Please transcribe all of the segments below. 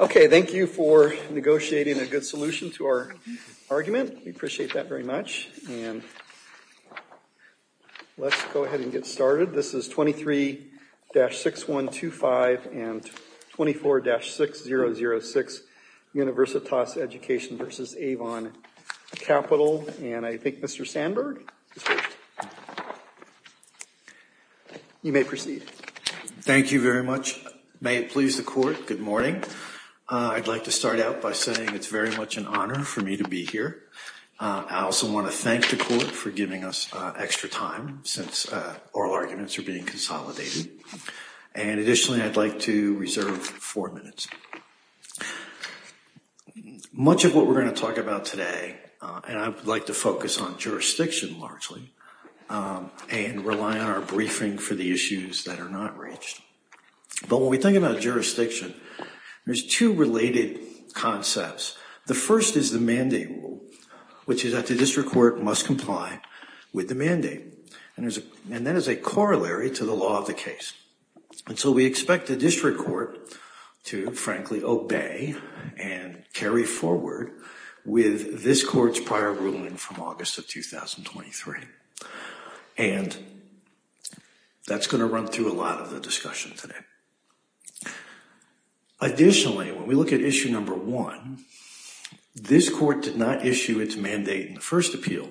Okay, thank you for negotiating a good solution to our argument. We appreciate that very much. And let's go ahead and get started. This is 23-6125 and 24-6006 Universitas Education v. Avon Capital. And I think Mr. Sandberg, you may proceed. Thank you very much. May it please the court, good morning. I'd like to start out by saying it's very much an honor for me to be here. I also want to thank the court for giving us extra time since oral arguments are being consolidated. And additionally, I'd like to reserve four minutes. Much of what we're going to talk about today, and I'd like to focus on jurisdiction largely, and rely on our briefing for the issues that are not reached. But when we think about jurisdiction, there's two related concepts. The first is the mandate rule, which is that the district court must comply with the mandate. And that is a corollary to the law of the case. And so we expect the district court to frankly obey and carry forward with this court's prior ruling from August of 2023. And that's going to run through a lot of the discussion today. Additionally, when we look at issue number one, this court did not issue its mandate in the first appeal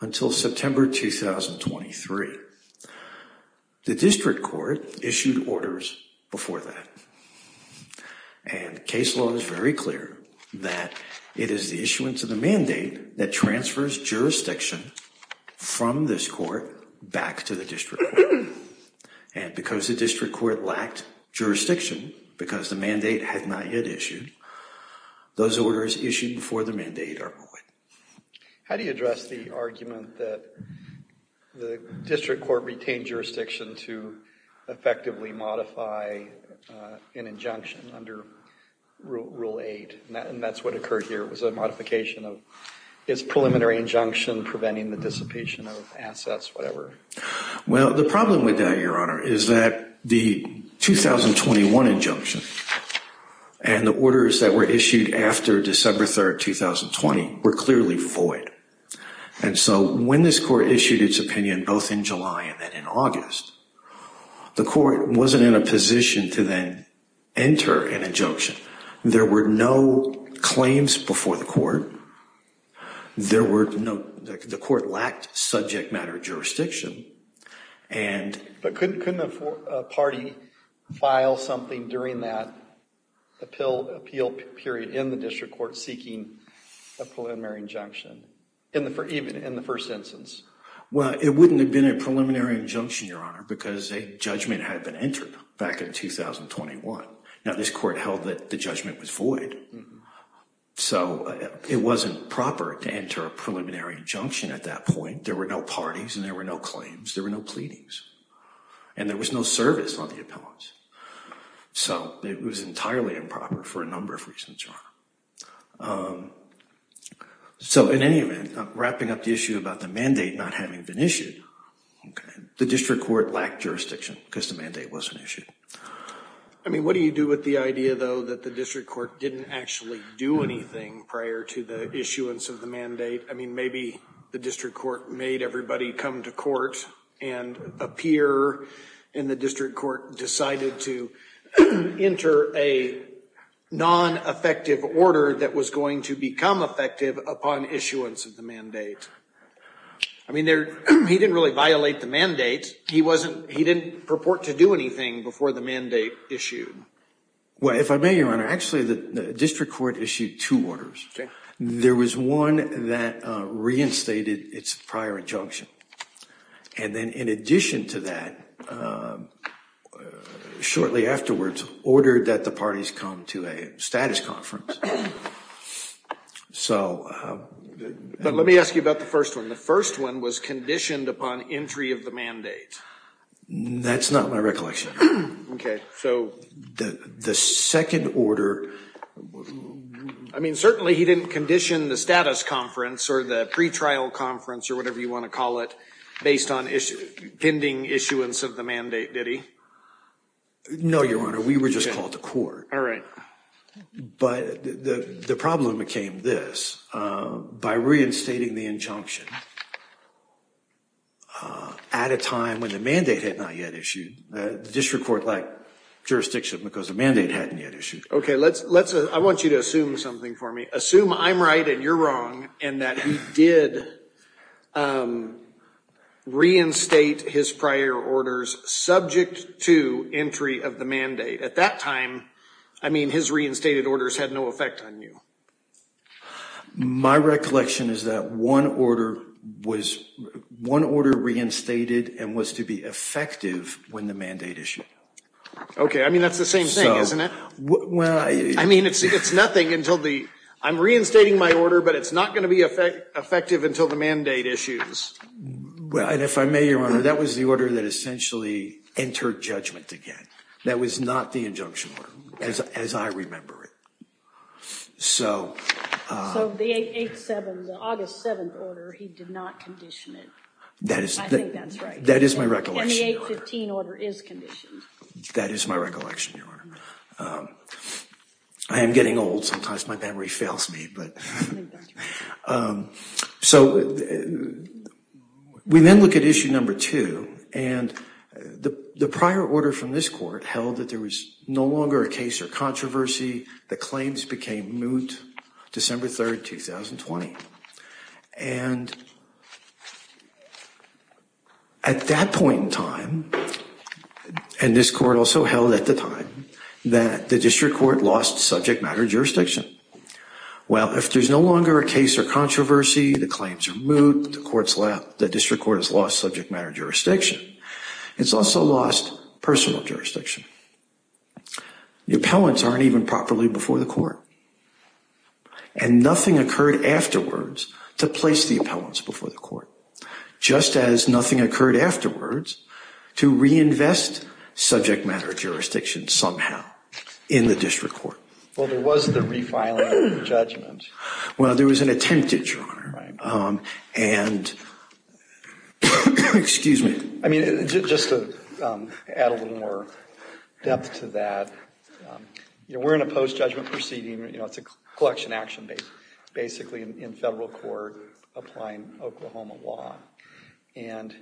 until September 2023. The district court issued orders before that. And case law is very clear that it is the issuance of the mandate that transfers jurisdiction from this court back to the district court. And because the district court lacked jurisdiction, because the mandate had not yet issued, those orders issued before the mandate are void. How do you address the argument that the district court retained jurisdiction to effectively modify an injunction under Rule 8? And that's what occurred here. It was a modification of its preliminary injunction preventing the dissipation of assets, whatever. Well, the problem with that, Your Honor, is that the 2021 injunction and the orders that were issued after December 3rd, 2020 were clearly void. And so when this court issued its opinion, both in July and then in August, the court wasn't in a position to then enter an injunction. There were no claims before the court. The court lacked subject matter jurisdiction. But couldn't a party file something during that appeal period in the district court seeking a preliminary injunction, even in the first instance? Well, it wouldn't have been a preliminary injunction, Your Honor, because a judgment had been entered back in 2021. Now, this court held that the judgment was void. So it wasn't proper to enter a preliminary injunction at that point. There were no parties and there were no claims. There were no pleadings. And there was no service on the appellants. So it was entirely improper for a number of reasons, Your Honor. So in any event, wrapping up the issue about the mandate not having been issued, the district court lacked jurisdiction because the mandate wasn't issued. I mean, what do you do with the idea, though, that the district court didn't actually do anything prior to the issuance of the mandate? I mean, maybe the district court made everybody come to court and appear, and the district court decided to enter a non-effective order that was going to become effective upon issuance of the mandate. I mean, he didn't really violate the mandate. He didn't purport to do anything before the mandate issued. Well, if I may, Your Honor, actually the district court issued two orders. There was one that reinstated its prior injunction. And then in addition to that, shortly afterwards, ordered that the parties come to a status conference. But let me ask you about the first one. The first one was conditioned upon entry of the mandate. That's not my recollection. So the second order, I mean, certainly he didn't condition the status conference or the pretrial conference or whatever you want to call it based on pending issuance of the mandate, did he? No, Your Honor. We were just called to court. All right. But the problem became this. By reinstating the injunction at a time when the mandate had not yet issued, the district court lacked jurisdiction because the mandate hadn't yet issued. Okay. I want you to assume something for me. Assume I'm right and you're wrong and that he did reinstate his prior orders subject to entry of the mandate. At that time, I mean, his reinstated orders had no effect on you. My recollection is that one order was – one order reinstated and was to be effective when the mandate issued. Okay. I mean, that's the same thing, isn't it? Well, I – I mean, it's nothing until the – I'm reinstating my order, but it's not going to be effective until the mandate issues. And if I may, Your Honor, that was the order that essentially entered judgment again. That was not the injunction order as I remember it. So – So the 8-7, the August 7 order, he did not condition it. That is – I think that's right. That is my recollection, Your Honor. And the 8-15 order is conditioned. That is my recollection, Your Honor. I am getting old. Sometimes my memory fails me, but – I think that's right. So we then look at issue number two. And the prior order from this court held that there was no longer a case or controversy. The claims became moot December 3, 2020. And at that point in time, and this court also held at the time, that the district court lost subject matter jurisdiction. Well, if there's no longer a case or controversy, the claims are moot, the district court has lost subject matter jurisdiction, it's also lost personal jurisdiction. The appellants aren't even properly before the court. And nothing occurred afterwards to place the appellants before the court, just as nothing occurred afterwards to reinvest subject matter jurisdiction somehow in the district court. Well, there was the refiling of the judgment. Well, there was an attempt at, Your Honor. Right. And – excuse me. I mean, just to add a little more depth to that, you know, we're in a post-judgment proceeding. You know, it's a collection action basically in federal court applying Oklahoma law. And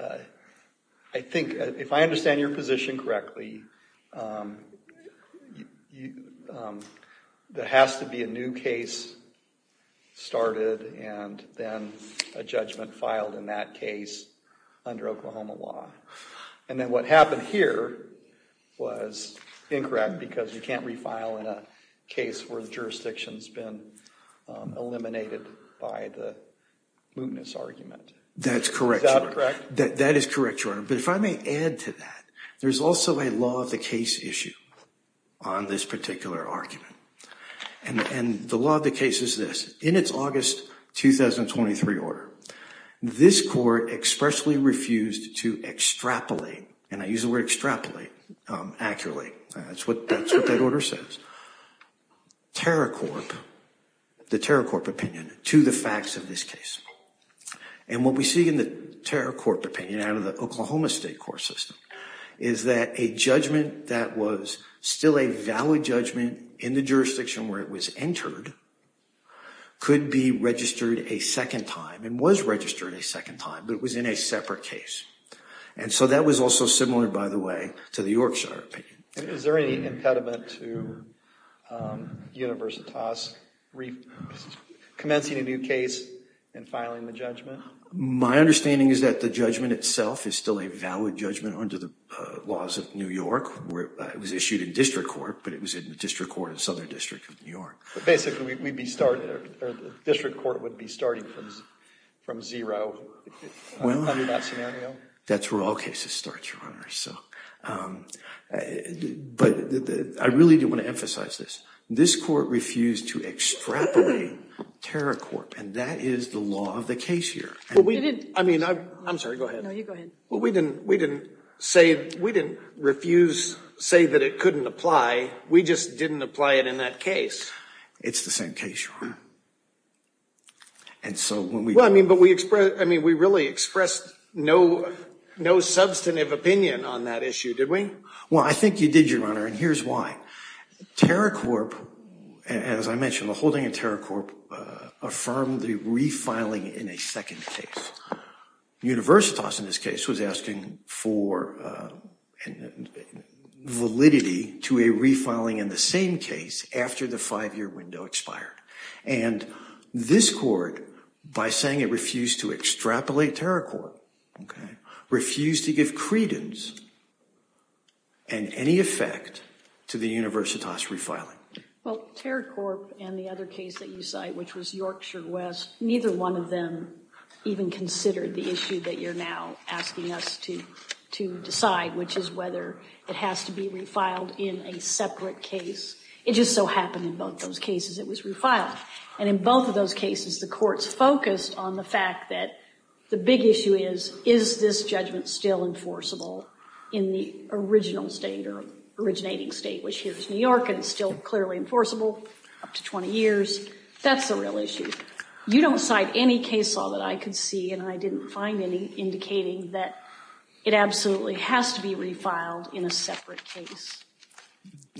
I think if I understand your position correctly, there has to be a new case started and then a judgment filed in that case under Oklahoma law. And then what happened here was incorrect because you can't refile in a case where the jurisdiction's been eliminated by the mootness argument. That's correct. That is correct, Your Honor. But if I may add to that, there's also a law of the case issue on this particular argument. And the law of the case is this. In its August 2023 order, this court expressly refused to extrapolate. And I use the word extrapolate accurately. That's what that order says. TerraCorp, the TerraCorp opinion to the facts of this case. And what we see in the TerraCorp opinion out of the Oklahoma State court system is that a judgment that was still a valid judgment in the jurisdiction where it was entered could be registered a second time and was registered a second time, but it was in a separate case. And so that was also similar, by the way, to the Yorkshire opinion. Is there any impediment to Universitas commencing a new case and filing the judgment? My understanding is that the judgment itself is still a valid judgment under the laws of New York. It was issued in district court, but it was in the district court in Southern District of New York. Basically, district court would be starting from zero under that scenario? That's where all cases start, Your Honor. But I really do want to emphasize this. This court refused to extrapolate TerraCorp, and that is the law of the case here. I'm sorry. Go ahead. No, you go ahead. Well, we didn't refuse to say that it couldn't apply. We just didn't apply it in that case. It's the same case, Your Honor. Well, I mean, but we really expressed no substantive opinion on that issue, did we? Well, I think you did, Your Honor, and here's why. TerraCorp, as I mentioned, the holding of TerraCorp affirmed the refiling in a second case. Universitas, in this case, was asking for validity to a refiling in the same case after the five-year window expired. And this court, by saying it refused to extrapolate TerraCorp, refused to give credence in any effect to the Universitas refiling. Well, TerraCorp and the other case that you cite, which was Yorkshire West, neither one of them even considered the issue that you're now asking us to decide, which is whether it has to be refiled in a separate case. It just so happened in both those cases it was refiled. And in both of those cases, the courts focused on the fact that the big issue is, is this judgment still enforceable in the original state or originating state, which here is New York, and still clearly enforceable up to 20 years? That's the real issue. You don't cite any case law that I could see, and I didn't find any, indicating that it absolutely has to be refiled in a separate case.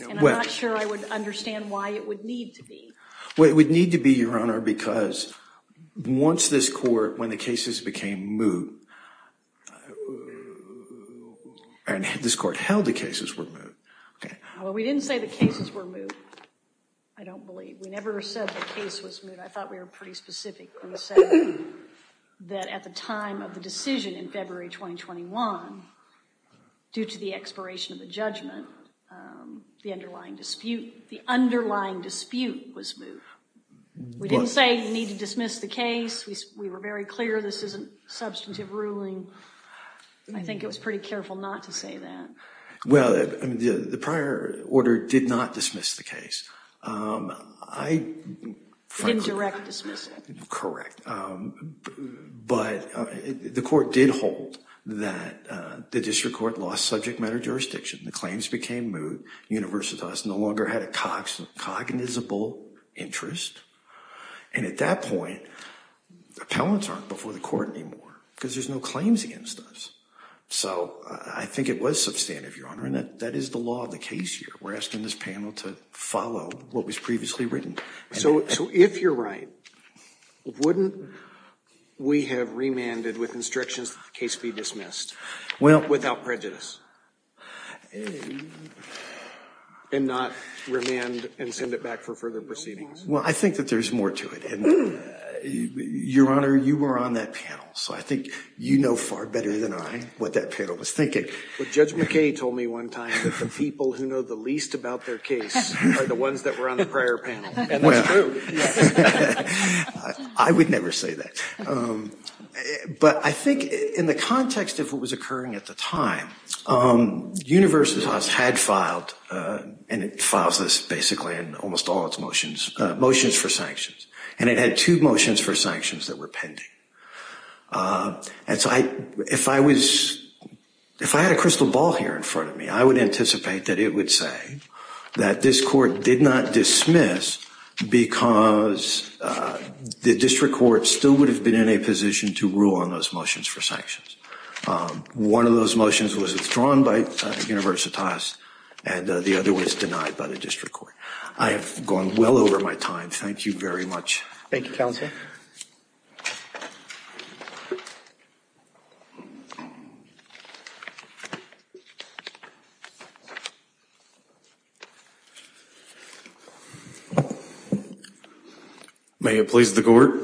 And I'm not sure I would understand why it would need to be. Well, it would need to be, Your Honor, because once this court, when the cases became moot, and this court held the cases were moot. Well, we didn't say the cases were moot. I don't believe. We never said the case was moot. I thought we were pretty specific when we said that at the time of the decision in February 2021, due to the expiration of the judgment, the underlying dispute, the underlying dispute was moot. We didn't say you need to dismiss the case. We were very clear this isn't substantive ruling. I think it was pretty careful not to say that. Well, the prior order did not dismiss the case. It didn't directly dismiss it. Correct. But the court did hold that the district court lost subject matter jurisdiction. The claims became moot. Universitas no longer had a cognizable interest. And at that point, appellants aren't before the court anymore because there's no claims against us. So I think it was substantive, Your Honor, and that is the law of the case here. We're asking this panel to follow what was previously written. So if you're right, wouldn't we have remanded with instructions that the case be dismissed without prejudice? And not remand and send it back for further proceedings. Well, I think that there's more to it. And, Your Honor, you were on that panel, so I think you know far better than I what that panel was thinking. Judge McKay told me one time that the people who know the least about their case are the ones that were on the prior panel. And that's true. I would never say that. But I think in the context of what was occurring at the time, Universitas had filed, and it files this basically in almost all its motions, motions for sanctions. And it had two motions for sanctions that were pending. And so if I was, if I had a crystal ball here in front of me, I would anticipate that it would say that this court did not dismiss because the district court still would have been in a position to rule on those motions for sanctions. One of those motions was withdrawn by Universitas, and the other was denied by the district court. I have gone well over my time. Thank you very much. Thank you, Counsel. May it please the court.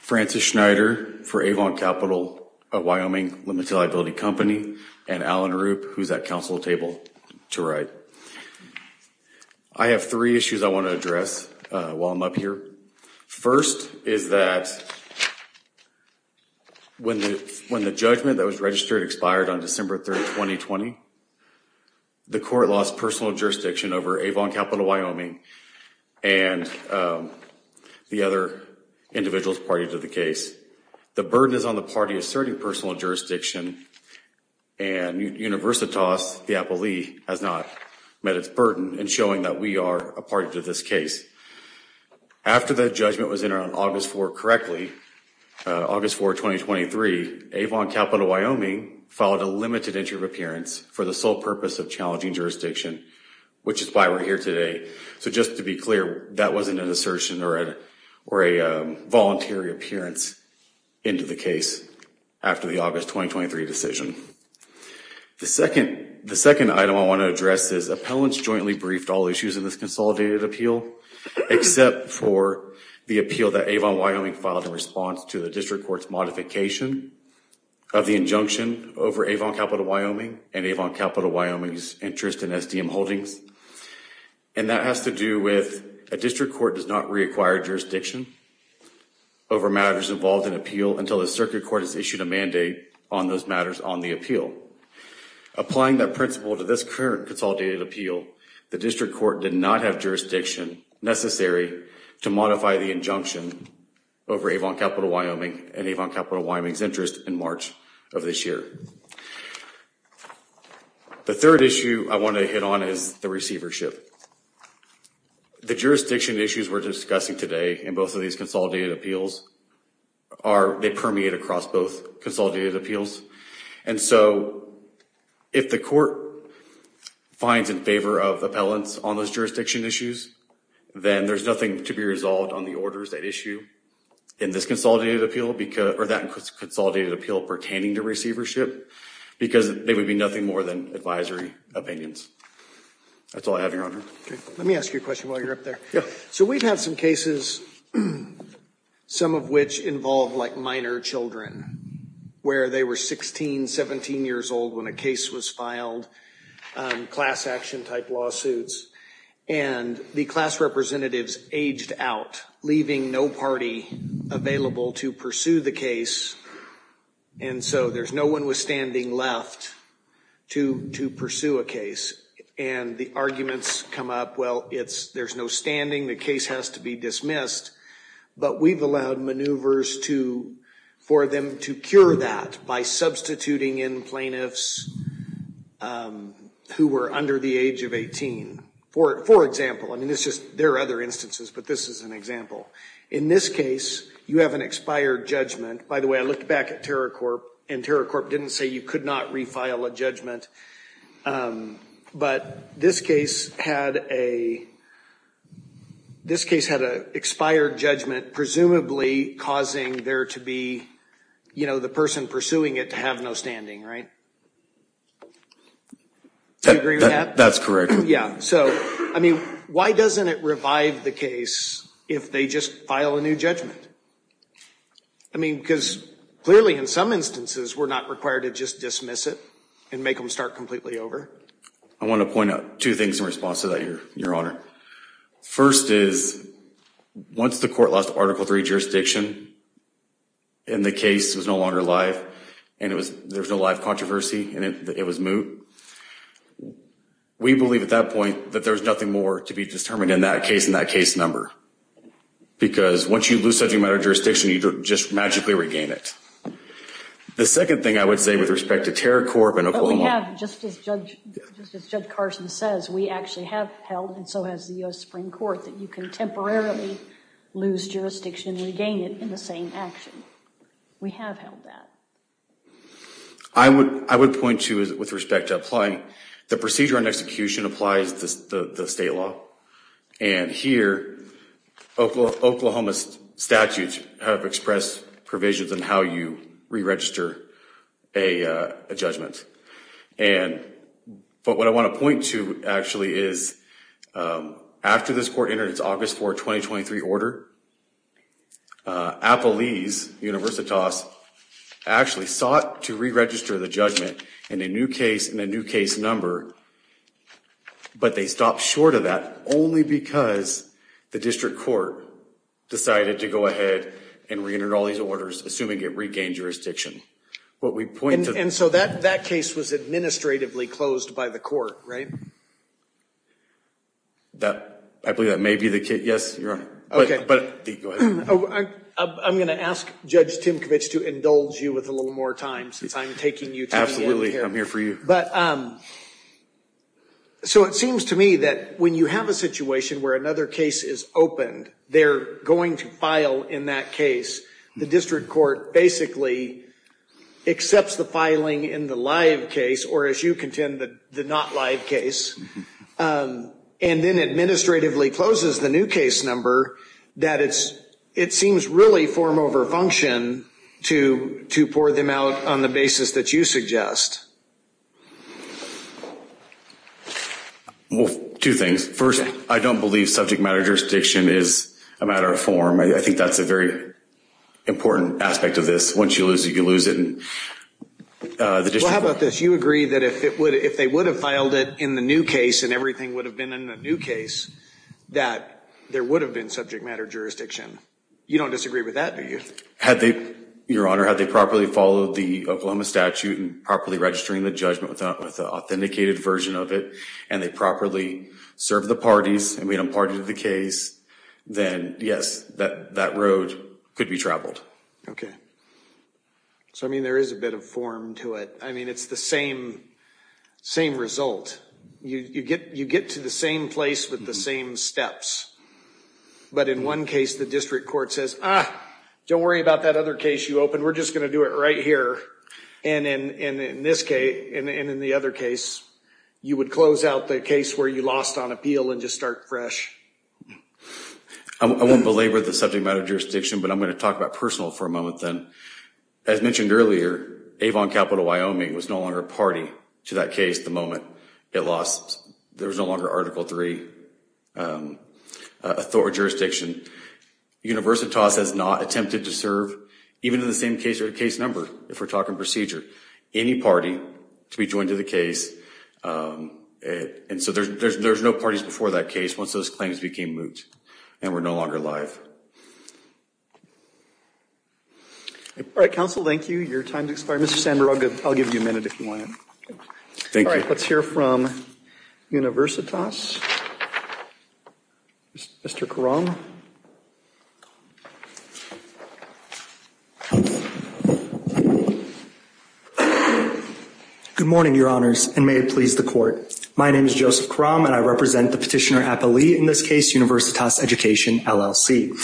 Francis Schneider for Avon Capital of Wyoming Limited Liability Company, and Alan Rupp, who's at counsel table, to write. I have three issues I want to address while I'm up here. First is that when the judgment that was registered expired on December 3, 2020, the court lost personal jurisdiction over Avon Capital of Wyoming and the other individuals party to the case. The burden is on the party asserting personal jurisdiction, and Universitas, the appellee, has not met its burden in showing that we are a party to this case. After the judgment was entered on August 4 correctly, August 4, 2023, Avon Capital of Wyoming filed a limited entry of appearance for the sole purpose of challenging jurisdiction, which is why we're here today. So just to be clear, that wasn't an assertion or a voluntary appearance into the case after the August 2023 decision. The second item I want to address is appellants jointly briefed all issues in this consolidated appeal, except for the appeal that Avon Wyoming filed in response to the district court's modification of the injunction over Avon Capital of Wyoming and Avon Capital of Wyoming's interest in SDM holdings. And that has to do with a district court does not reacquire jurisdiction over matters involved in appeal until the circuit court has issued a mandate on those matters on the appeal. Applying that principle to this current consolidated appeal, the district court did not have jurisdiction necessary to modify the injunction over Avon Capital of Wyoming and Avon Capital of Wyoming's interest in March of this year. The third issue I want to hit on is the receivership. The jurisdiction issues we're discussing today in both of these consolidated appeals, they permeate across both consolidated appeals. And so if the court finds in favor of appellants on those jurisdiction issues, then there's nothing to be resolved on the orders that issue in this consolidated appeal or that consolidated appeal pertaining to receivership, because they would be nothing more than advisory opinions. That's all I have, Your Honor. Let me ask you a question while you're up there. So we've had some cases, some of which involve like minor children, where they were 16, 17 years old when a case was filed, class action type lawsuits. And the class representatives aged out, leaving no party available to pursue the case. And so there's no one withstanding left to pursue a case. And the arguments come up, well, there's no standing. The case has to be dismissed. But we've allowed maneuvers for them to cure that by substituting in plaintiffs who were under the age of 18. For example, I mean, there are other instances, but this is an example. In this case, you have an expired judgment. By the way, I looked back at Terracorp, and Terracorp didn't say you could not refile a judgment. But this case had a expired judgment presumably causing there to be, you know, the person pursuing it to have no standing, right? Do you agree with that? That's correct. Yeah. So, I mean, why doesn't it revive the case if they just file a new judgment? I mean, because clearly in some instances we're not required to just dismiss it and make them start completely over. I want to point out two things in response to that, Your Honor. First is, once the court lost Article III jurisdiction and the case was no longer alive and there was no live controversy and it was moot, we believe at that point that there's nothing more to be determined in that case than that case number. Because once you lose such a matter of jurisdiction, you just magically regain it. The second thing I would say with respect to Terracorp and Oklahoma. But we have, just as Judge Carson says, we actually have held, and so has the U.S. Supreme Court, that you can temporarily lose jurisdiction and regain it in the same action. We have held that. I would point to, with respect to applying, the procedure and execution applies to the state law. And here, Oklahoma's statutes have expressed provisions on how you re-register a judgment. But what I want to point to, actually, is after this court entered its August 4, 2023 order, Appalese, Universitas, actually sought to re-register the judgment in a new case number. But they stopped short of that only because the district court decided to go ahead and re-enter all these orders, assuming it regained jurisdiction. And so that case was administratively closed by the court, right? I believe that may be the case. Yes, Your Honor. I'm going to ask Judge Timkovich to indulge you with a little more time since I'm taking you to the end here. Absolutely. I'm here for you. So it seems to me that when you have a situation where another case is opened, they're going to file in that case, the district court basically accepts the filing in the live case, or as you contend, the not live case, and then administratively closes the new case number, that it seems really form over function to pour them out on the basis that you suggest. Well, two things. First, I don't believe subject matter jurisdiction is a matter of form. I think that's a very important aspect of this. Once you lose it, you lose it. Well, how about this? You agree that if they would have filed it in the new case and everything would have been in the new case, that there would have been subject matter jurisdiction. You don't disagree with that, do you? Your Honor, had they properly followed the Oklahoma statute and properly registering the judgment with an authenticated version of it, and they properly served the parties and made them part of the case, then yes, that road could be traveled. Okay. So, I mean, there is a bit of form to it. I mean, it's the same result. You get to the same place with the same steps. But in one case, the district court says, ah, don't worry about that other case you opened, we're just going to do it right here. And in this case, and in the other case, you would close out the case where you lost on appeal and just start fresh. I won't belabor the subject matter jurisdiction, but I'm going to talk about personal for a moment then. As mentioned earlier, Avon Capital, Wyoming, was no longer a party to that case the moment it lost. There was no longer Article III authority or jurisdiction. Universitas has not attempted to serve, even in the same case or case number, if we're talking procedure, any party to be joined to the case. And so there's no parties before that case once those claims became moot and were no longer alive. All right, counsel, thank you. Your time has expired. Mr. Sandberg, I'll give you a minute if you want. All right, let's hear from Universitas. Mr. Karam. Good morning, Your Honors, and may it please the court. My name is Joseph Karam, and I represent the petitioner appellee in this case, Universitas Education, LLC.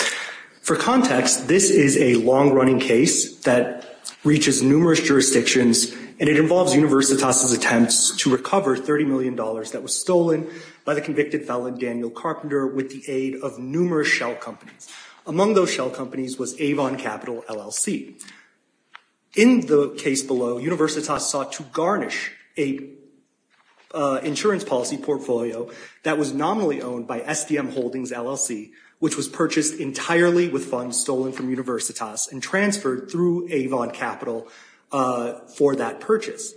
For context, this is a long-running case that reaches numerous jurisdictions, and it involves Universitas' attempts to recover $30 million that was stolen by the convicted felon, Daniel Carpenter, with the aid of numerous lawyers, Among those shell companies was Avon Capital, LLC. In the case below, Universitas sought to garnish an insurance policy portfolio that was nominally owned by SDM Holdings, LLC, which was purchased entirely with funds stolen from Universitas and transferred through Avon Capital for that purchase.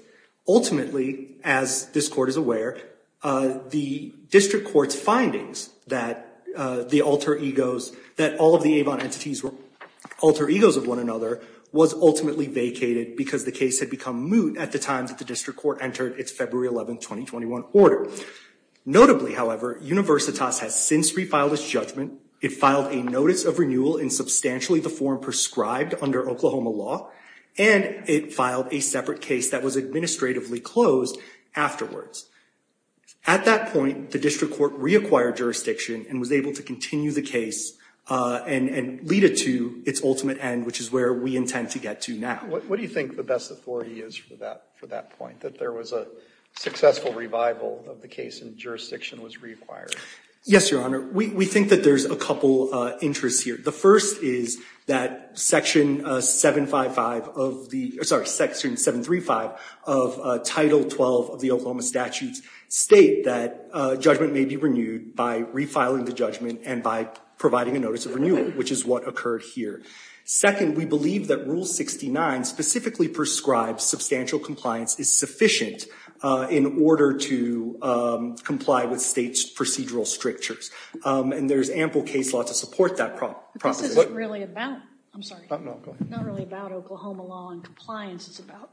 Ultimately, as this court is aware, the district court's findings that the alter egos, that all of the Avon entities were alter egos of one another, was ultimately vacated because the case had become moot at the time that the district court entered its February 11, 2021, order. Notably, however, Universitas has since refiled its judgment. It filed a notice of renewal in substantially the form prescribed under Oklahoma law, and it filed a separate case that was administratively closed afterwards. At that point, the district court reacquired jurisdiction and was able to continue the case and lead it to its ultimate end, which is where we intend to get to now. What do you think the best authority is for that point, that there was a successful revival of the case and jurisdiction was reacquired? Yes, Your Honor, we think that there's a couple interests here. The first is that Section 735 of Title 12 of the Oklahoma Statutes state that judgment may be renewed by refiling the judgment and by providing a notice of renewal, which is what occurred here. Second, we believe that Rule 69 specifically prescribes substantial compliance is sufficient in order to comply with state's procedural strictures. And there's ample case law to support that proposition. But this isn't really about, I'm sorry, not really about Oklahoma law and compliance. It's about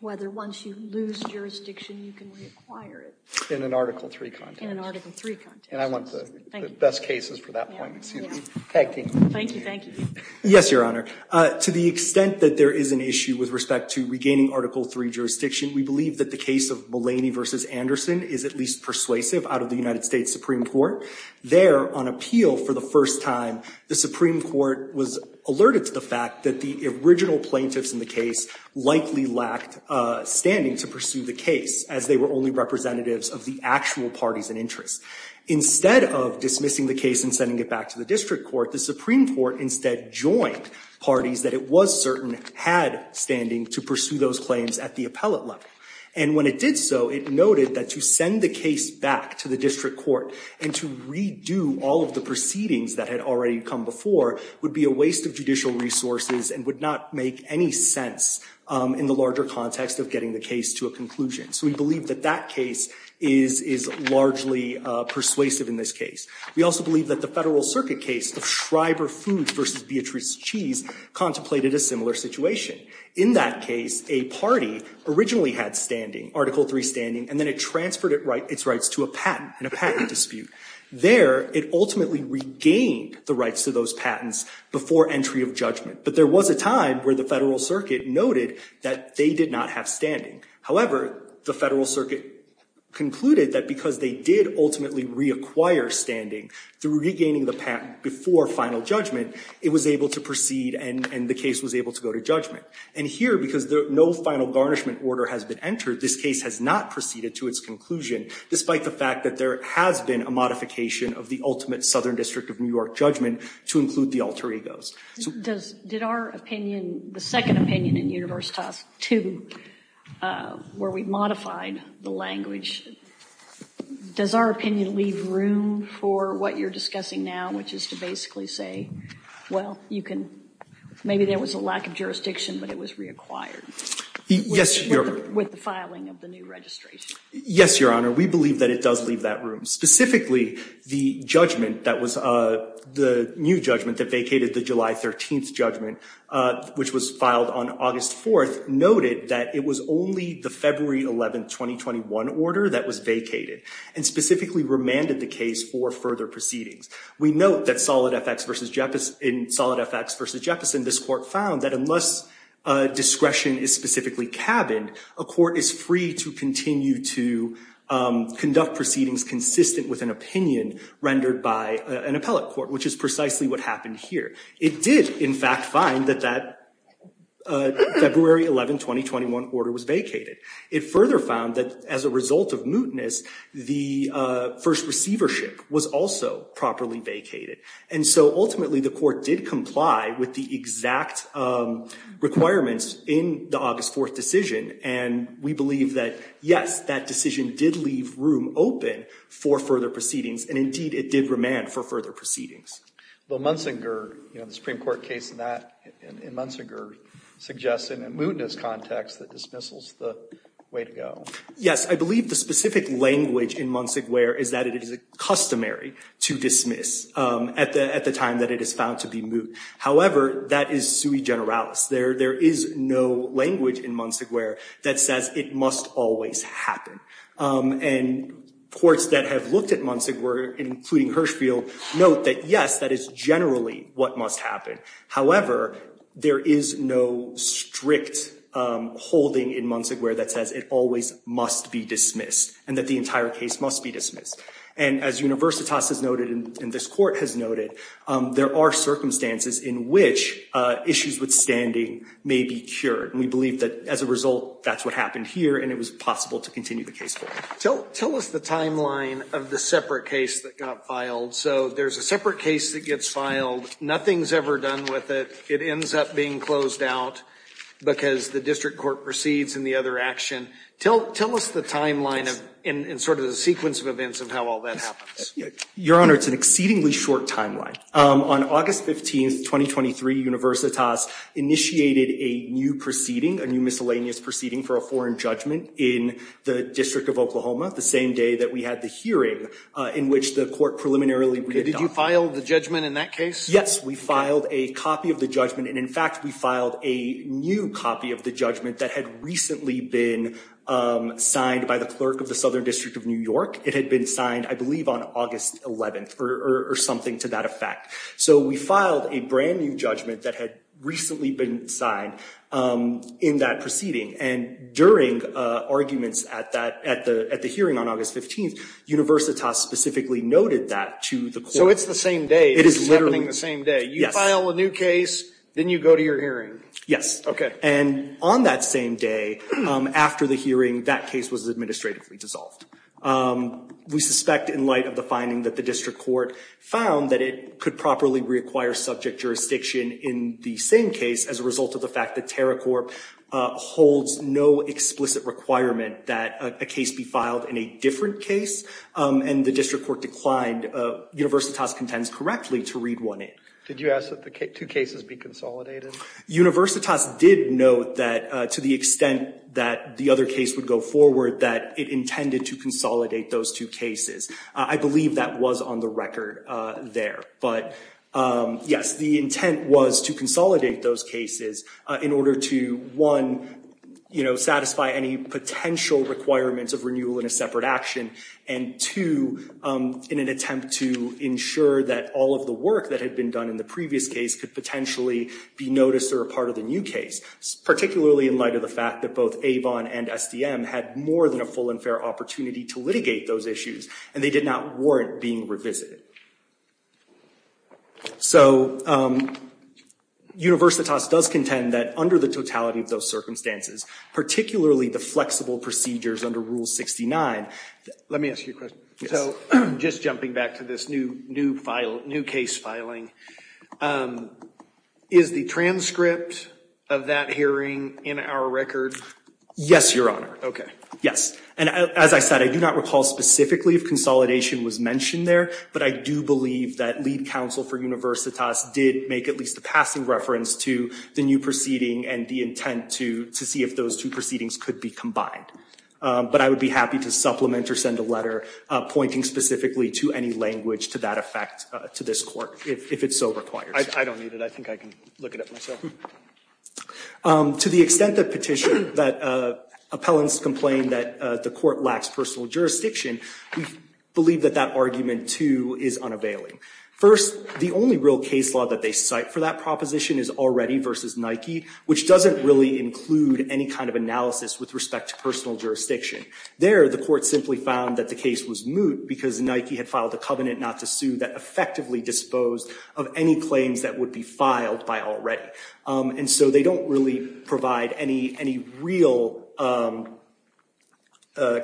whether once you lose jurisdiction, you can reacquire it. In an Article 3 context. In an Article 3 context. And I want the best cases for that point. Thank you. Thank you. Yes, Your Honor. To the extent that there is an issue with respect to regaining Article 3 jurisdiction, we believe that the case of Mulaney v. Anderson is at least persuasive out of the United States Supreme Court. There, on appeal for the first time, the Supreme Court was alerted to the fact that the original plaintiffs in the case likely lacked standing to pursue the case, as they were only representatives of the actual parties in interest. Instead of dismissing the case and sending it back to the district court, the Supreme Court instead joined parties that it was certain had standing to pursue those claims at the appellate level. And when it did so, it noted that to send the case back to the district court and to redo all of the proceedings that had already come before would be a waste of judicial resources and would not make any sense in the larger context of getting the case to a conclusion. So we believe that that case is largely persuasive in this case. We also believe that the Federal Circuit case, the Schreiber Food v. Beatrice Cheese, contemplated a similar situation. In that case, a party originally had standing, Article III standing, and then it transferred its rights to a patent in a patent dispute. There, it ultimately regained the rights to those patents before entry of judgment. But there was a time where the Federal Circuit noted that they did not have standing. However, the Federal Circuit concluded that because they did ultimately reacquire standing through regaining the patent before final judgment, it was able to proceed and the case was able to go to judgment. And here, because no final garnishment order has been entered, this case has not proceeded to its conclusion, despite the fact that there has been a modification of the ultimate Southern District of New York judgment to include the alter egos. Did our opinion, the second opinion in Universitas II, where we modified the language, does our opinion leave room for what you're discussing now, which is to basically say, well, you can, maybe there was a lack of jurisdiction, but it was reacquired. Yes, Your Honor. With the filing of the new registration. Yes, Your Honor. We believe that it does leave that room. Specifically, the judgment that was the new judgment that vacated the July 13th judgment, which was filed on August 4th, noted that it was only the February 11th, 2021 order that was vacated and specifically remanded the case for further proceedings. We note that in Solid FX v. Jefferson, this court found that unless discretion is specifically cabined, a court is free to continue to conduct proceedings consistent with an opinion rendered by an appellate court, which is precisely what happened here. It did, in fact, find that that February 11th, 2021 order was vacated. It further found that as a result of mootness, the first receivership was also properly vacated. And so ultimately, the court did comply with the exact requirements in the August 4th decision. And we believe that, yes, that decision did leave room open for further proceedings. And indeed, it did remand for further proceedings. Well, Munsinger, you know, the Supreme Court case in Munsinger suggests in a mootness context that dismissal is the way to go. Yes, I believe the specific language in Munsinger is that it is customary to dismiss at the time that it is found to be moot. However, that is sui generalis. There is no language in Munsinger that says it must always happen. And courts that have looked at Munsinger, including Hirschfield, note that, yes, that is generally what must happen. However, there is no strict holding in Munsinger that says it always must be dismissed and that the entire case must be dismissed. And as Universitas has noted and this court has noted, there are circumstances in which issues with standing may be cured. We believe that as a result, that's what happened here. And it was possible to continue the case. Tell us the timeline of the separate case that got filed. So there's a separate case that gets filed. Nothing's ever done with it. It ends up being closed out because the district court proceeds in the other action. Tell us the timeline and sort of the sequence of events of how all that happens. Your Honor, it's an exceedingly short timeline. On August 15th, 2023, Universitas initiated a new proceeding, a new miscellaneous proceeding for a foreign judgment in the District of Oklahoma, the same day that we had the hearing in which the court preliminarily did. Did you file the judgment in that case? Yes, we filed a copy of the judgment. And in fact, we filed a new copy of the judgment that had recently been signed by the clerk of the Southern District of New York. It had been signed, I believe, on August 11th or something to that effect. So we filed a brand new judgment that had recently been signed in that proceeding. And during arguments at the hearing on August 15th, Universitas specifically noted that to the court. So it's the same day. It is literally. It's happening the same day. You file a new case, then you go to your hearing. Yes. Okay. And on that same day, after the hearing, that case was administratively dissolved. We suspect in light of the finding that the district court found that it could properly reacquire subject jurisdiction in the same case as a result of the fact that Terracorp holds no explicit requirement that a case be filed in a different case. And the district court declined. Universitas contends correctly to read one in. Did you ask that the two cases be consolidated? Universitas did note that to the extent that the other case would go forward, that it intended to consolidate those two cases. I believe that was on the record there. But, yes, the intent was to consolidate those cases in order to, one, satisfy any potential requirements of renewal in a separate action, and two, in an attempt to ensure that all of the work that had been done in the previous case could potentially be noticed or a part of the new case, particularly in light of the fact that both Avon and SDM had more than a full and fair opportunity to litigate those issues, and they did not warrant being revisited. So Universitas does contend that under the totality of those circumstances, particularly the flexible procedures under Rule 69. Let me ask you a question. So just jumping back to this new case filing, is the transcript of that hearing in our record? Yes, Your Honor. Okay. Yes. And as I said, I do not recall specifically if consolidation was mentioned there, but I do believe that lead counsel for Universitas did make at least a passing reference to the new proceeding and the intent to see if those two proceedings could be combined. But I would be happy to supplement or send a letter pointing specifically to any language to that effect to this Court, if it so requires. I don't need it. I think I can look at it myself. To the extent the petition that appellants complained that the Court lacks personal jurisdiction, we believe that that argument, too, is unavailing. First, the only real case law that they cite for that proposition is Already v. Nike, which doesn't really include any kind of analysis with respect to personal jurisdiction. There, the Court simply found that the case was moot because Nike had filed a covenant not to sue that effectively disposed of any claims that would be filed by Already. And so they don't really provide any real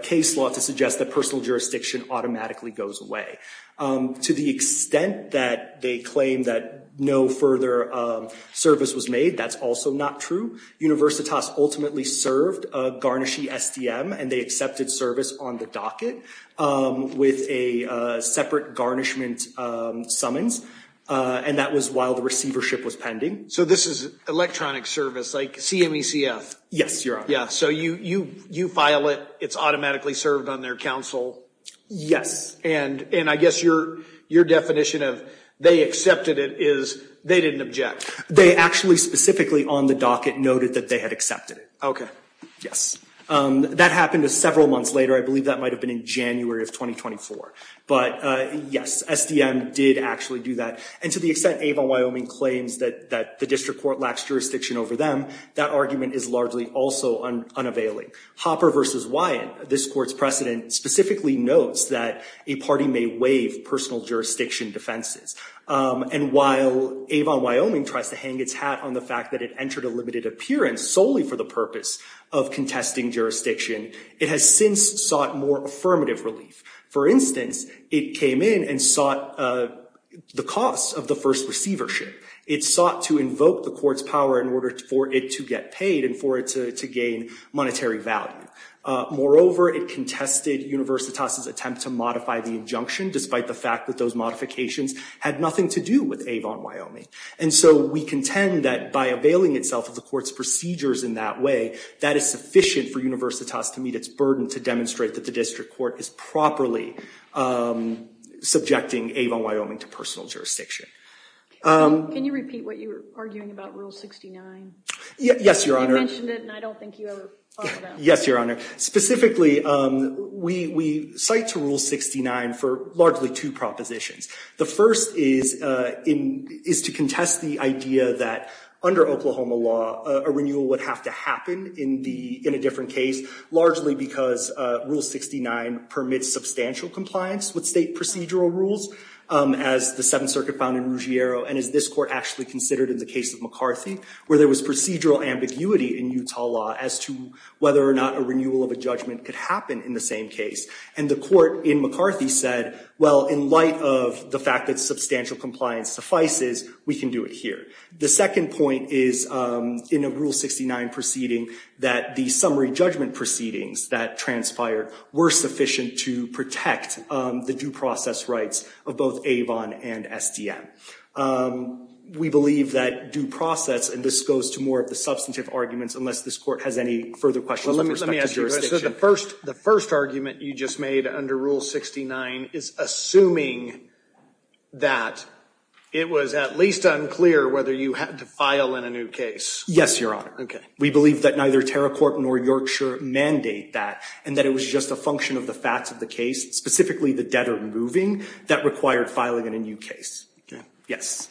case law to suggest that personal jurisdiction automatically goes away. To the extent that they claim that no further service was made, that's also not true. Universitas ultimately served a garnishy SDM, and they accepted service on the docket with a separate garnishment summons, and that was while the receivership was pending. So this is electronic service, like CMECF? Yes, Your Honor. Yeah, so you file it. It's automatically served on their counsel. Yes. And I guess your definition of they accepted it is they didn't object. They actually specifically on the docket noted that they had accepted it. Okay. Yes. That happened several months later. I believe that might have been in January of 2024. But yes, SDM did actually do that. And to the extent Avon Wyoming claims that the district court lacks jurisdiction over them, that argument is largely also unavailing. Hopper v. Wyan, this Court's precedent, specifically notes that a party may waive personal jurisdiction defenses. And while Avon Wyoming tries to hang its hat on the fact that it entered a limited appearance solely for the purpose of contesting jurisdiction, it has since sought more affirmative relief. For instance, it came in and sought the costs of the first receivership. It sought to invoke the Court's power in order for it to get paid and for it to gain monetary value. Moreover, it contested Universitas' attempt to modify the injunction despite the fact that those modifications had nothing to do with Avon Wyoming. And so we contend that by availing itself of the Court's procedures in that way, that is sufficient for Universitas to meet its burden to demonstrate that the district court is properly subjecting Avon Wyoming to personal jurisdiction. Can you repeat what you were arguing about, Rule 69? Yes, Your Honor. You mentioned it and I don't think you ever followed up. Yes, Your Honor. Specifically, we cite to Rule 69 for largely two propositions. The first is to contest the idea that under Oklahoma law, a renewal would have to happen in a different case, largely because Rule 69 permits substantial compliance with state procedural rules, as the Seventh Circuit found in Ruggiero and as this Court actually considered in the case of McCarthy, where there was procedural ambiguity in Utah law as to whether or not a renewal of a judgment could happen in the same case. And the court in McCarthy said, well, in light of the fact that substantial compliance suffices, we can do it here. The second point is in a Rule 69 proceeding that the summary judgment proceedings that transpired were sufficient to protect the due process rights of both Avon and SDM. We believe that due process, and this goes to more of the substantive arguments, unless this Court has any further questions with respect to jurisdiction. Well, let me ask you a question. The first argument you just made under Rule 69 is assuming that it was at least unclear whether you had to file in a new case. Yes, Your Honor. We believe that neither Terracourt nor Yorkshire mandate that and that it was just a function of the facts of the case, specifically the debtor moving, that required filing in a new case. Yes.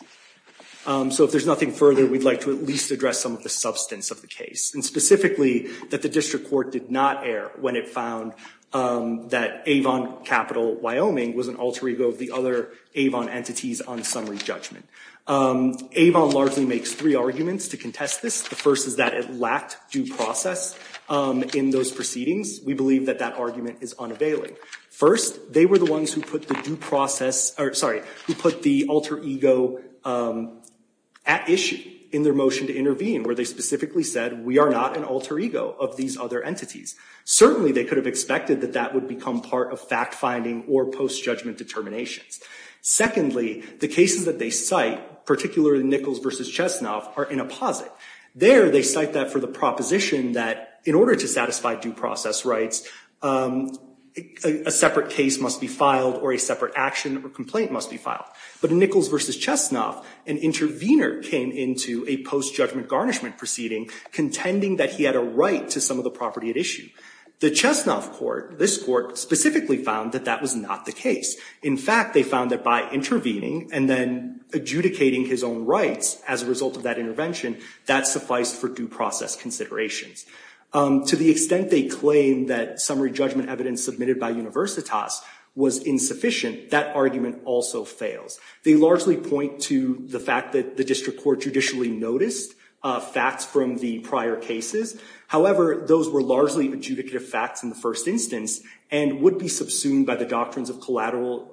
So if there's nothing further, we'd like to at least address some of the substance of the case, and specifically that the district court did not err when it found that Avon, capital Wyoming, was an alter ego of the other Avon entities on summary judgment. Avon largely makes three arguments to contest this. The first is that it lacked due process in those proceedings. We believe that that argument is unavailing. First, they were the ones who put the alter ego at issue in their motion to intervene, where they specifically said, we are not an alter ego of these other entities. Certainly, they could have expected that that would become part of fact-finding or post-judgment determinations. Secondly, the cases that they cite, particularly Nichols v. Chesnoff, are in a posit. There, they cite that for the proposition that in order to satisfy due process rights, a separate case must be filed or a separate action or complaint must be filed. But in Nichols v. Chesnoff, an intervener came into a post-judgment garnishment proceeding, contending that he had a right to some of the property at issue. The Chesnoff court, this court, specifically found that that was not the case. In fact, they found that by intervening and then adjudicating his own rights as a result of that intervention, that sufficed for due process considerations. To the extent they claim that summary judgment evidence submitted by universitas was insufficient, that argument also fails. They largely point to the fact that the district court judicially noticed facts from the prior cases. However, those were largely adjudicative facts in the first instance and would be subsumed by the doctrines of collateral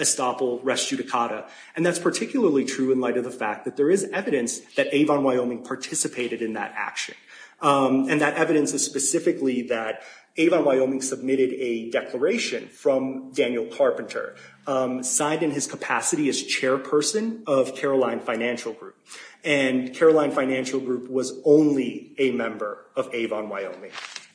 estoppel res judicata. And that's particularly true in light of the fact that there is evidence that Avon Wyoming participated in that action. And that evidence is specifically that Avon Wyoming submitted a declaration from Daniel Carpenter, signed in his capacity as chairperson of Caroline Financial Group. And Caroline Financial Group was only a member of Avon Wyoming.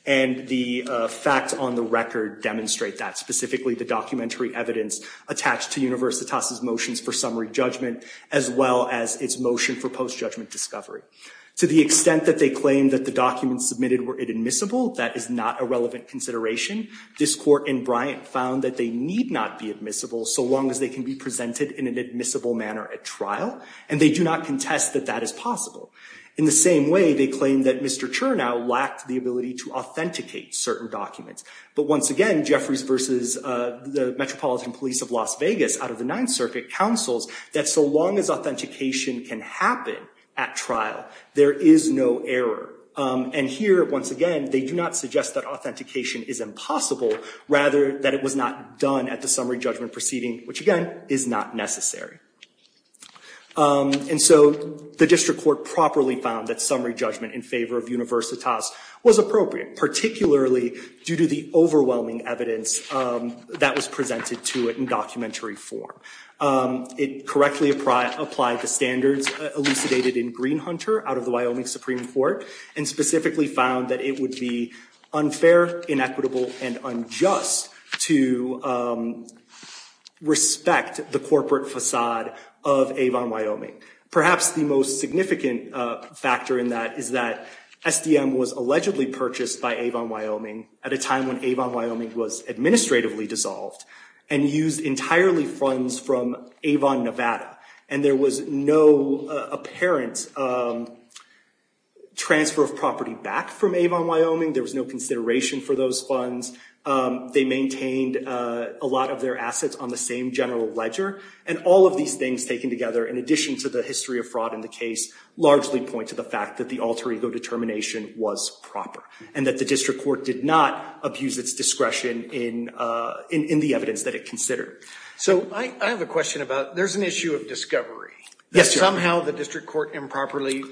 And the facts on the record demonstrate that, specifically the documentary evidence attached to universitas' motions for summary judgment as well as its motion for post-judgment discovery. To the extent that they claim that the documents submitted were admissible, that is not a relevant consideration. This court in Bryant found that they need not be admissible so long as they can be presented in an admissible manner at trial. And they do not contest that that is possible. In the same way, they claim that Mr. Chernow lacked the ability to authenticate certain documents. But once again, Jeffries versus the Metropolitan Police of Las Vegas out of the Ninth Circuit counsels that so long as authentication can happen at trial, there is no error. And here, once again, they do not suggest that authentication is impossible, rather that it was not done at the summary judgment proceeding, which, again, is not necessary. And so the district court properly found that summary judgment in favor of universitas was appropriate, particularly due to the overwhelming evidence that was presented to it in documentary form. It correctly applied the standards elucidated in Green Hunter out of the Wyoming Supreme Court and specifically found that it would be unfair, inequitable, and unjust to respect the corporate facade of Avon, Wyoming. Perhaps the most significant factor in that is that SDM was allegedly purchased by Avon, Wyoming at a time when Avon, Wyoming was administratively dissolved and used entirely funds from Avon, Nevada. And there was no apparent transfer of property back from Avon, Wyoming. There was no consideration for those funds. They maintained a lot of their assets on the same general ledger. And all of these things taken together, in addition to the history of fraud in the case, largely point to the fact that the alter ego determination was proper and that the district court did not abuse its discretion in the evidence that it considered. So I have a question about there's an issue of discovery. Somehow the district court improperly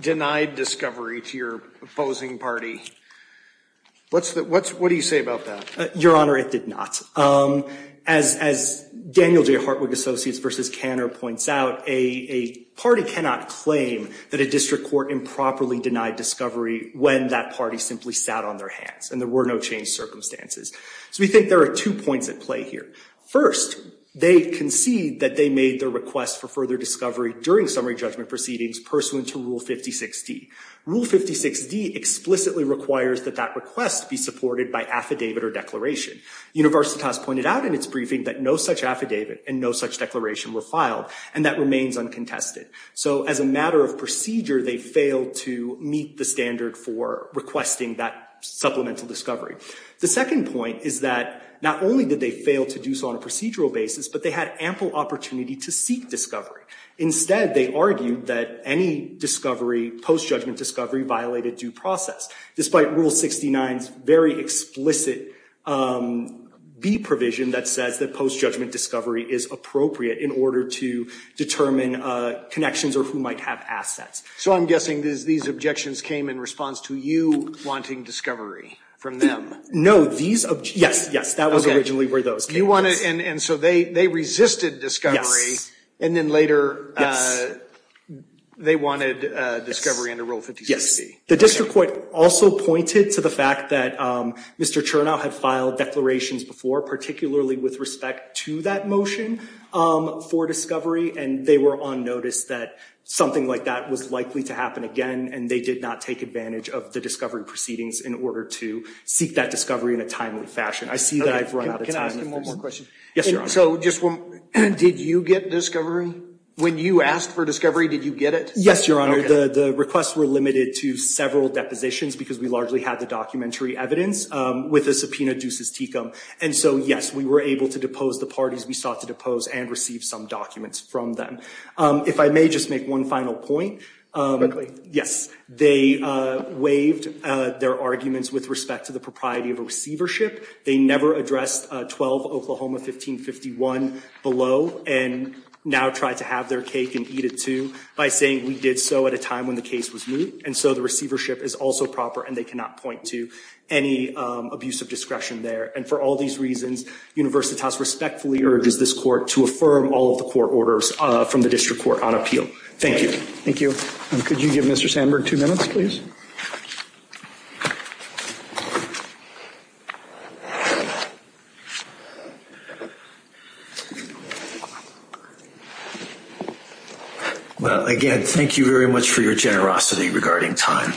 denied discovery to your opposing party. What do you say about that? Your Honor, it did not. As Daniel J. Hartwig, Associates v. Kanner, points out, a party cannot claim that a district court improperly denied discovery when that party simply sat on their hands and there were no changed circumstances. So we think there are two points at play here. First, they concede that they made their request for further discovery during summary judgment proceedings pursuant to Rule 56D. Rule 56D explicitly requires that that request be supported by affidavit or declaration. Universitas pointed out in its briefing that no such affidavit and no such declaration were filed, and that remains uncontested. So as a matter of procedure, they failed to meet the standard for requesting that supplemental discovery. The second point is that not only did they fail to do so on a procedural basis, but they had ample opportunity to seek discovery. Instead, they argued that any discovery, post-judgment discovery, violated due process, despite Rule 69's very explicit B provision that says that post-judgment discovery is appropriate in order to determine connections or who might have assets. So I'm guessing these objections came in response to you wanting discovery from them. No, these – yes, yes, that was originally where those came from. And so they resisted discovery, and then later they wanted discovery under Rule 56D. The district court also pointed to the fact that Mr. Chernow had filed declarations before, particularly with respect to that motion for discovery, and they were on notice that something like that was likely to happen again, and they did not take advantage of the discovery proceedings in order to seek that discovery in a timely fashion. I see that I've run out of time. Can I ask him one more question? Yes, Your Honor. So just one – did you get discovery? When you asked for discovery, did you get it? Yes, Your Honor. The requests were limited to several depositions because we largely had the documentary evidence with the subpoena ducis tecum. And so, yes, we were able to depose the parties we sought to depose and receive some documents from them. If I may just make one final point. Quickly. Yes. They waived their arguments with respect to the propriety of a receivership. They never addressed 12 Oklahoma 1551 below, and now try to have their cake and eat it too by saying, we did so at a time when the case was moot. And so the receivership is also proper, and they cannot point to any abuse of discretion there. And for all these reasons, Universitas respectfully urges this court to affirm all of the court orders from the district court on appeal. Thank you. Thank you. Could you give Mr. Sandberg two minutes, please? Well, again, thank you very much for your generosity regarding time.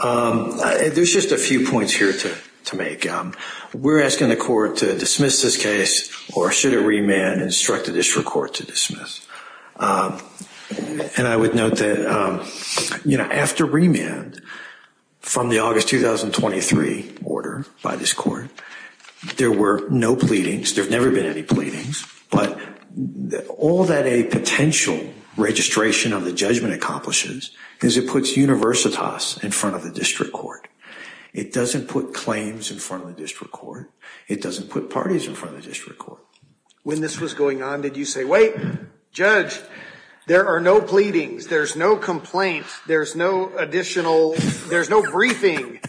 There's just a few points here to make. We're asking the court to dismiss this case, or should a remand instruct the district court to dismiss? And I would note that, you know, after remand from the August 2023 order by this court, there were no pleadings. There have never been any pleadings. But all that a potential registration of the judgment accomplishes is it puts Universitas in front of the district court. It doesn't put claims in front of the district court. It doesn't put parties in front of the district court. When this was going on, did you say, wait, judge, there are no pleadings. There's no complaint. There's no additional, there's no briefing.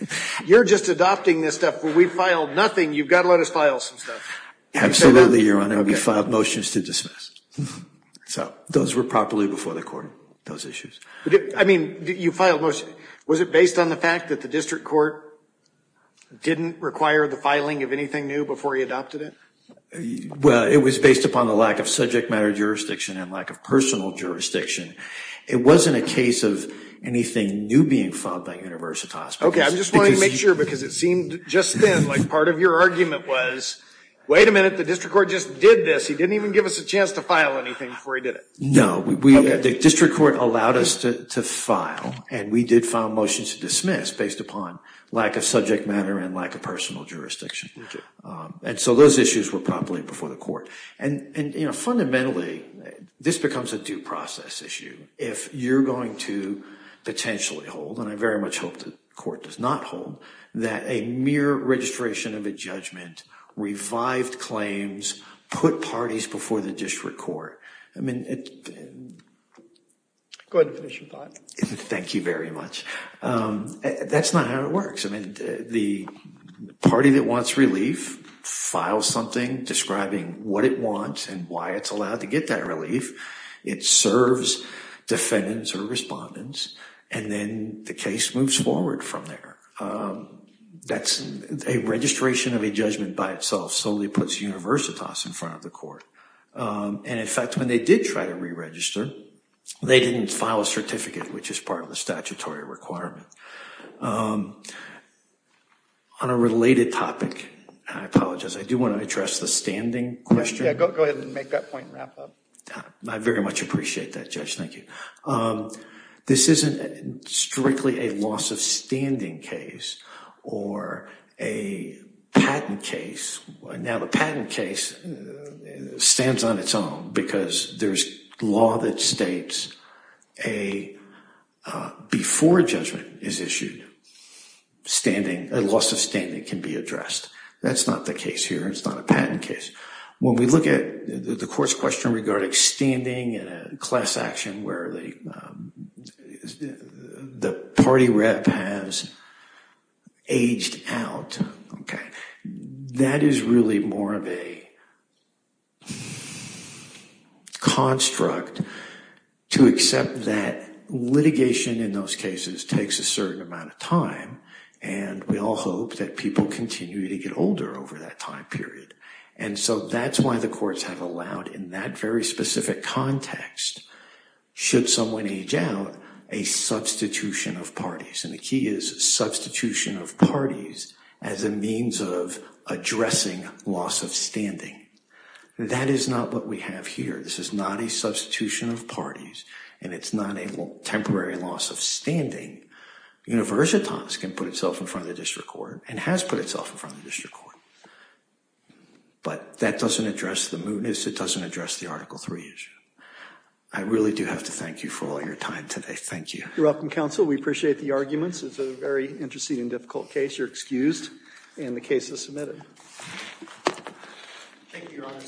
You're just adopting this stuff. We filed nothing. You've got to let us file some stuff. Absolutely, Your Honor. We filed motions to dismiss. So those were properly before the court, those issues. I mean, you filed motions. Was it based on the fact that the district court didn't require the filing of anything new before you adopted it? Well, it was based upon the lack of subject matter jurisdiction and lack of personal jurisdiction. It wasn't a case of anything new being filed by Universitas. Okay. I'm just wanting to make sure because it seemed just then, like part of your argument was, wait a minute, the district court just did this. He didn't even give us a chance to file anything before he did it. No. The district court allowed us to file, and we did file motions to dismiss based upon lack of subject matter and lack of personal jurisdiction. And so those issues were properly before the court. And, you know, fundamentally, this becomes a due process issue. If you're going to potentially hold, and I very much hope the court does not hold, that a mere registration of a judgment, revived claims, put parties before the district court. Go ahead and finish your thought. Thank you very much. That's not how it works. I mean, the party that wants relief files something describing what it wants and why it's allowed to get that relief. It serves defendants or respondents, and then the case moves forward from there. That's a registration of a judgment by itself solely puts Universitas in front of the court. And, in fact, when they did try to re-register, they didn't file a certificate, which is part of the statutory requirement. On a related topic, I apologize. I do want to address the standing question. Yeah, go ahead and make that point and wrap up. I very much appreciate that, Judge. Thank you. This isn't strictly a loss of standing case or a patent case. Now, the patent case stands on its own because there's law that states before a judgment is issued, a loss of standing can be addressed. That's not the case here. It's not a patent case. When we look at the court's question regarding standing in a class action where the party rep has aged out, that is really more of a construct to accept that litigation in those cases takes a certain amount of time, and we all hope that people continue to get older over that time period. And so that's why the courts have allowed in that very specific context, should someone age out, a substitution of parties. And the key is substitution of parties as a means of addressing loss of standing. That is not what we have here. This is not a substitution of parties, and it's not a temporary loss of standing. Universitas can put itself in front of the district court and has put itself in front of the district court, but that doesn't address the mootness. It doesn't address the Article III issue. I really do have to thank you for all your time today. Thank you. You're welcome, Counsel. We appreciate the arguments. It's a very interesting and difficult case. You're excused, and the case is submitted. Thank you, Your Honor.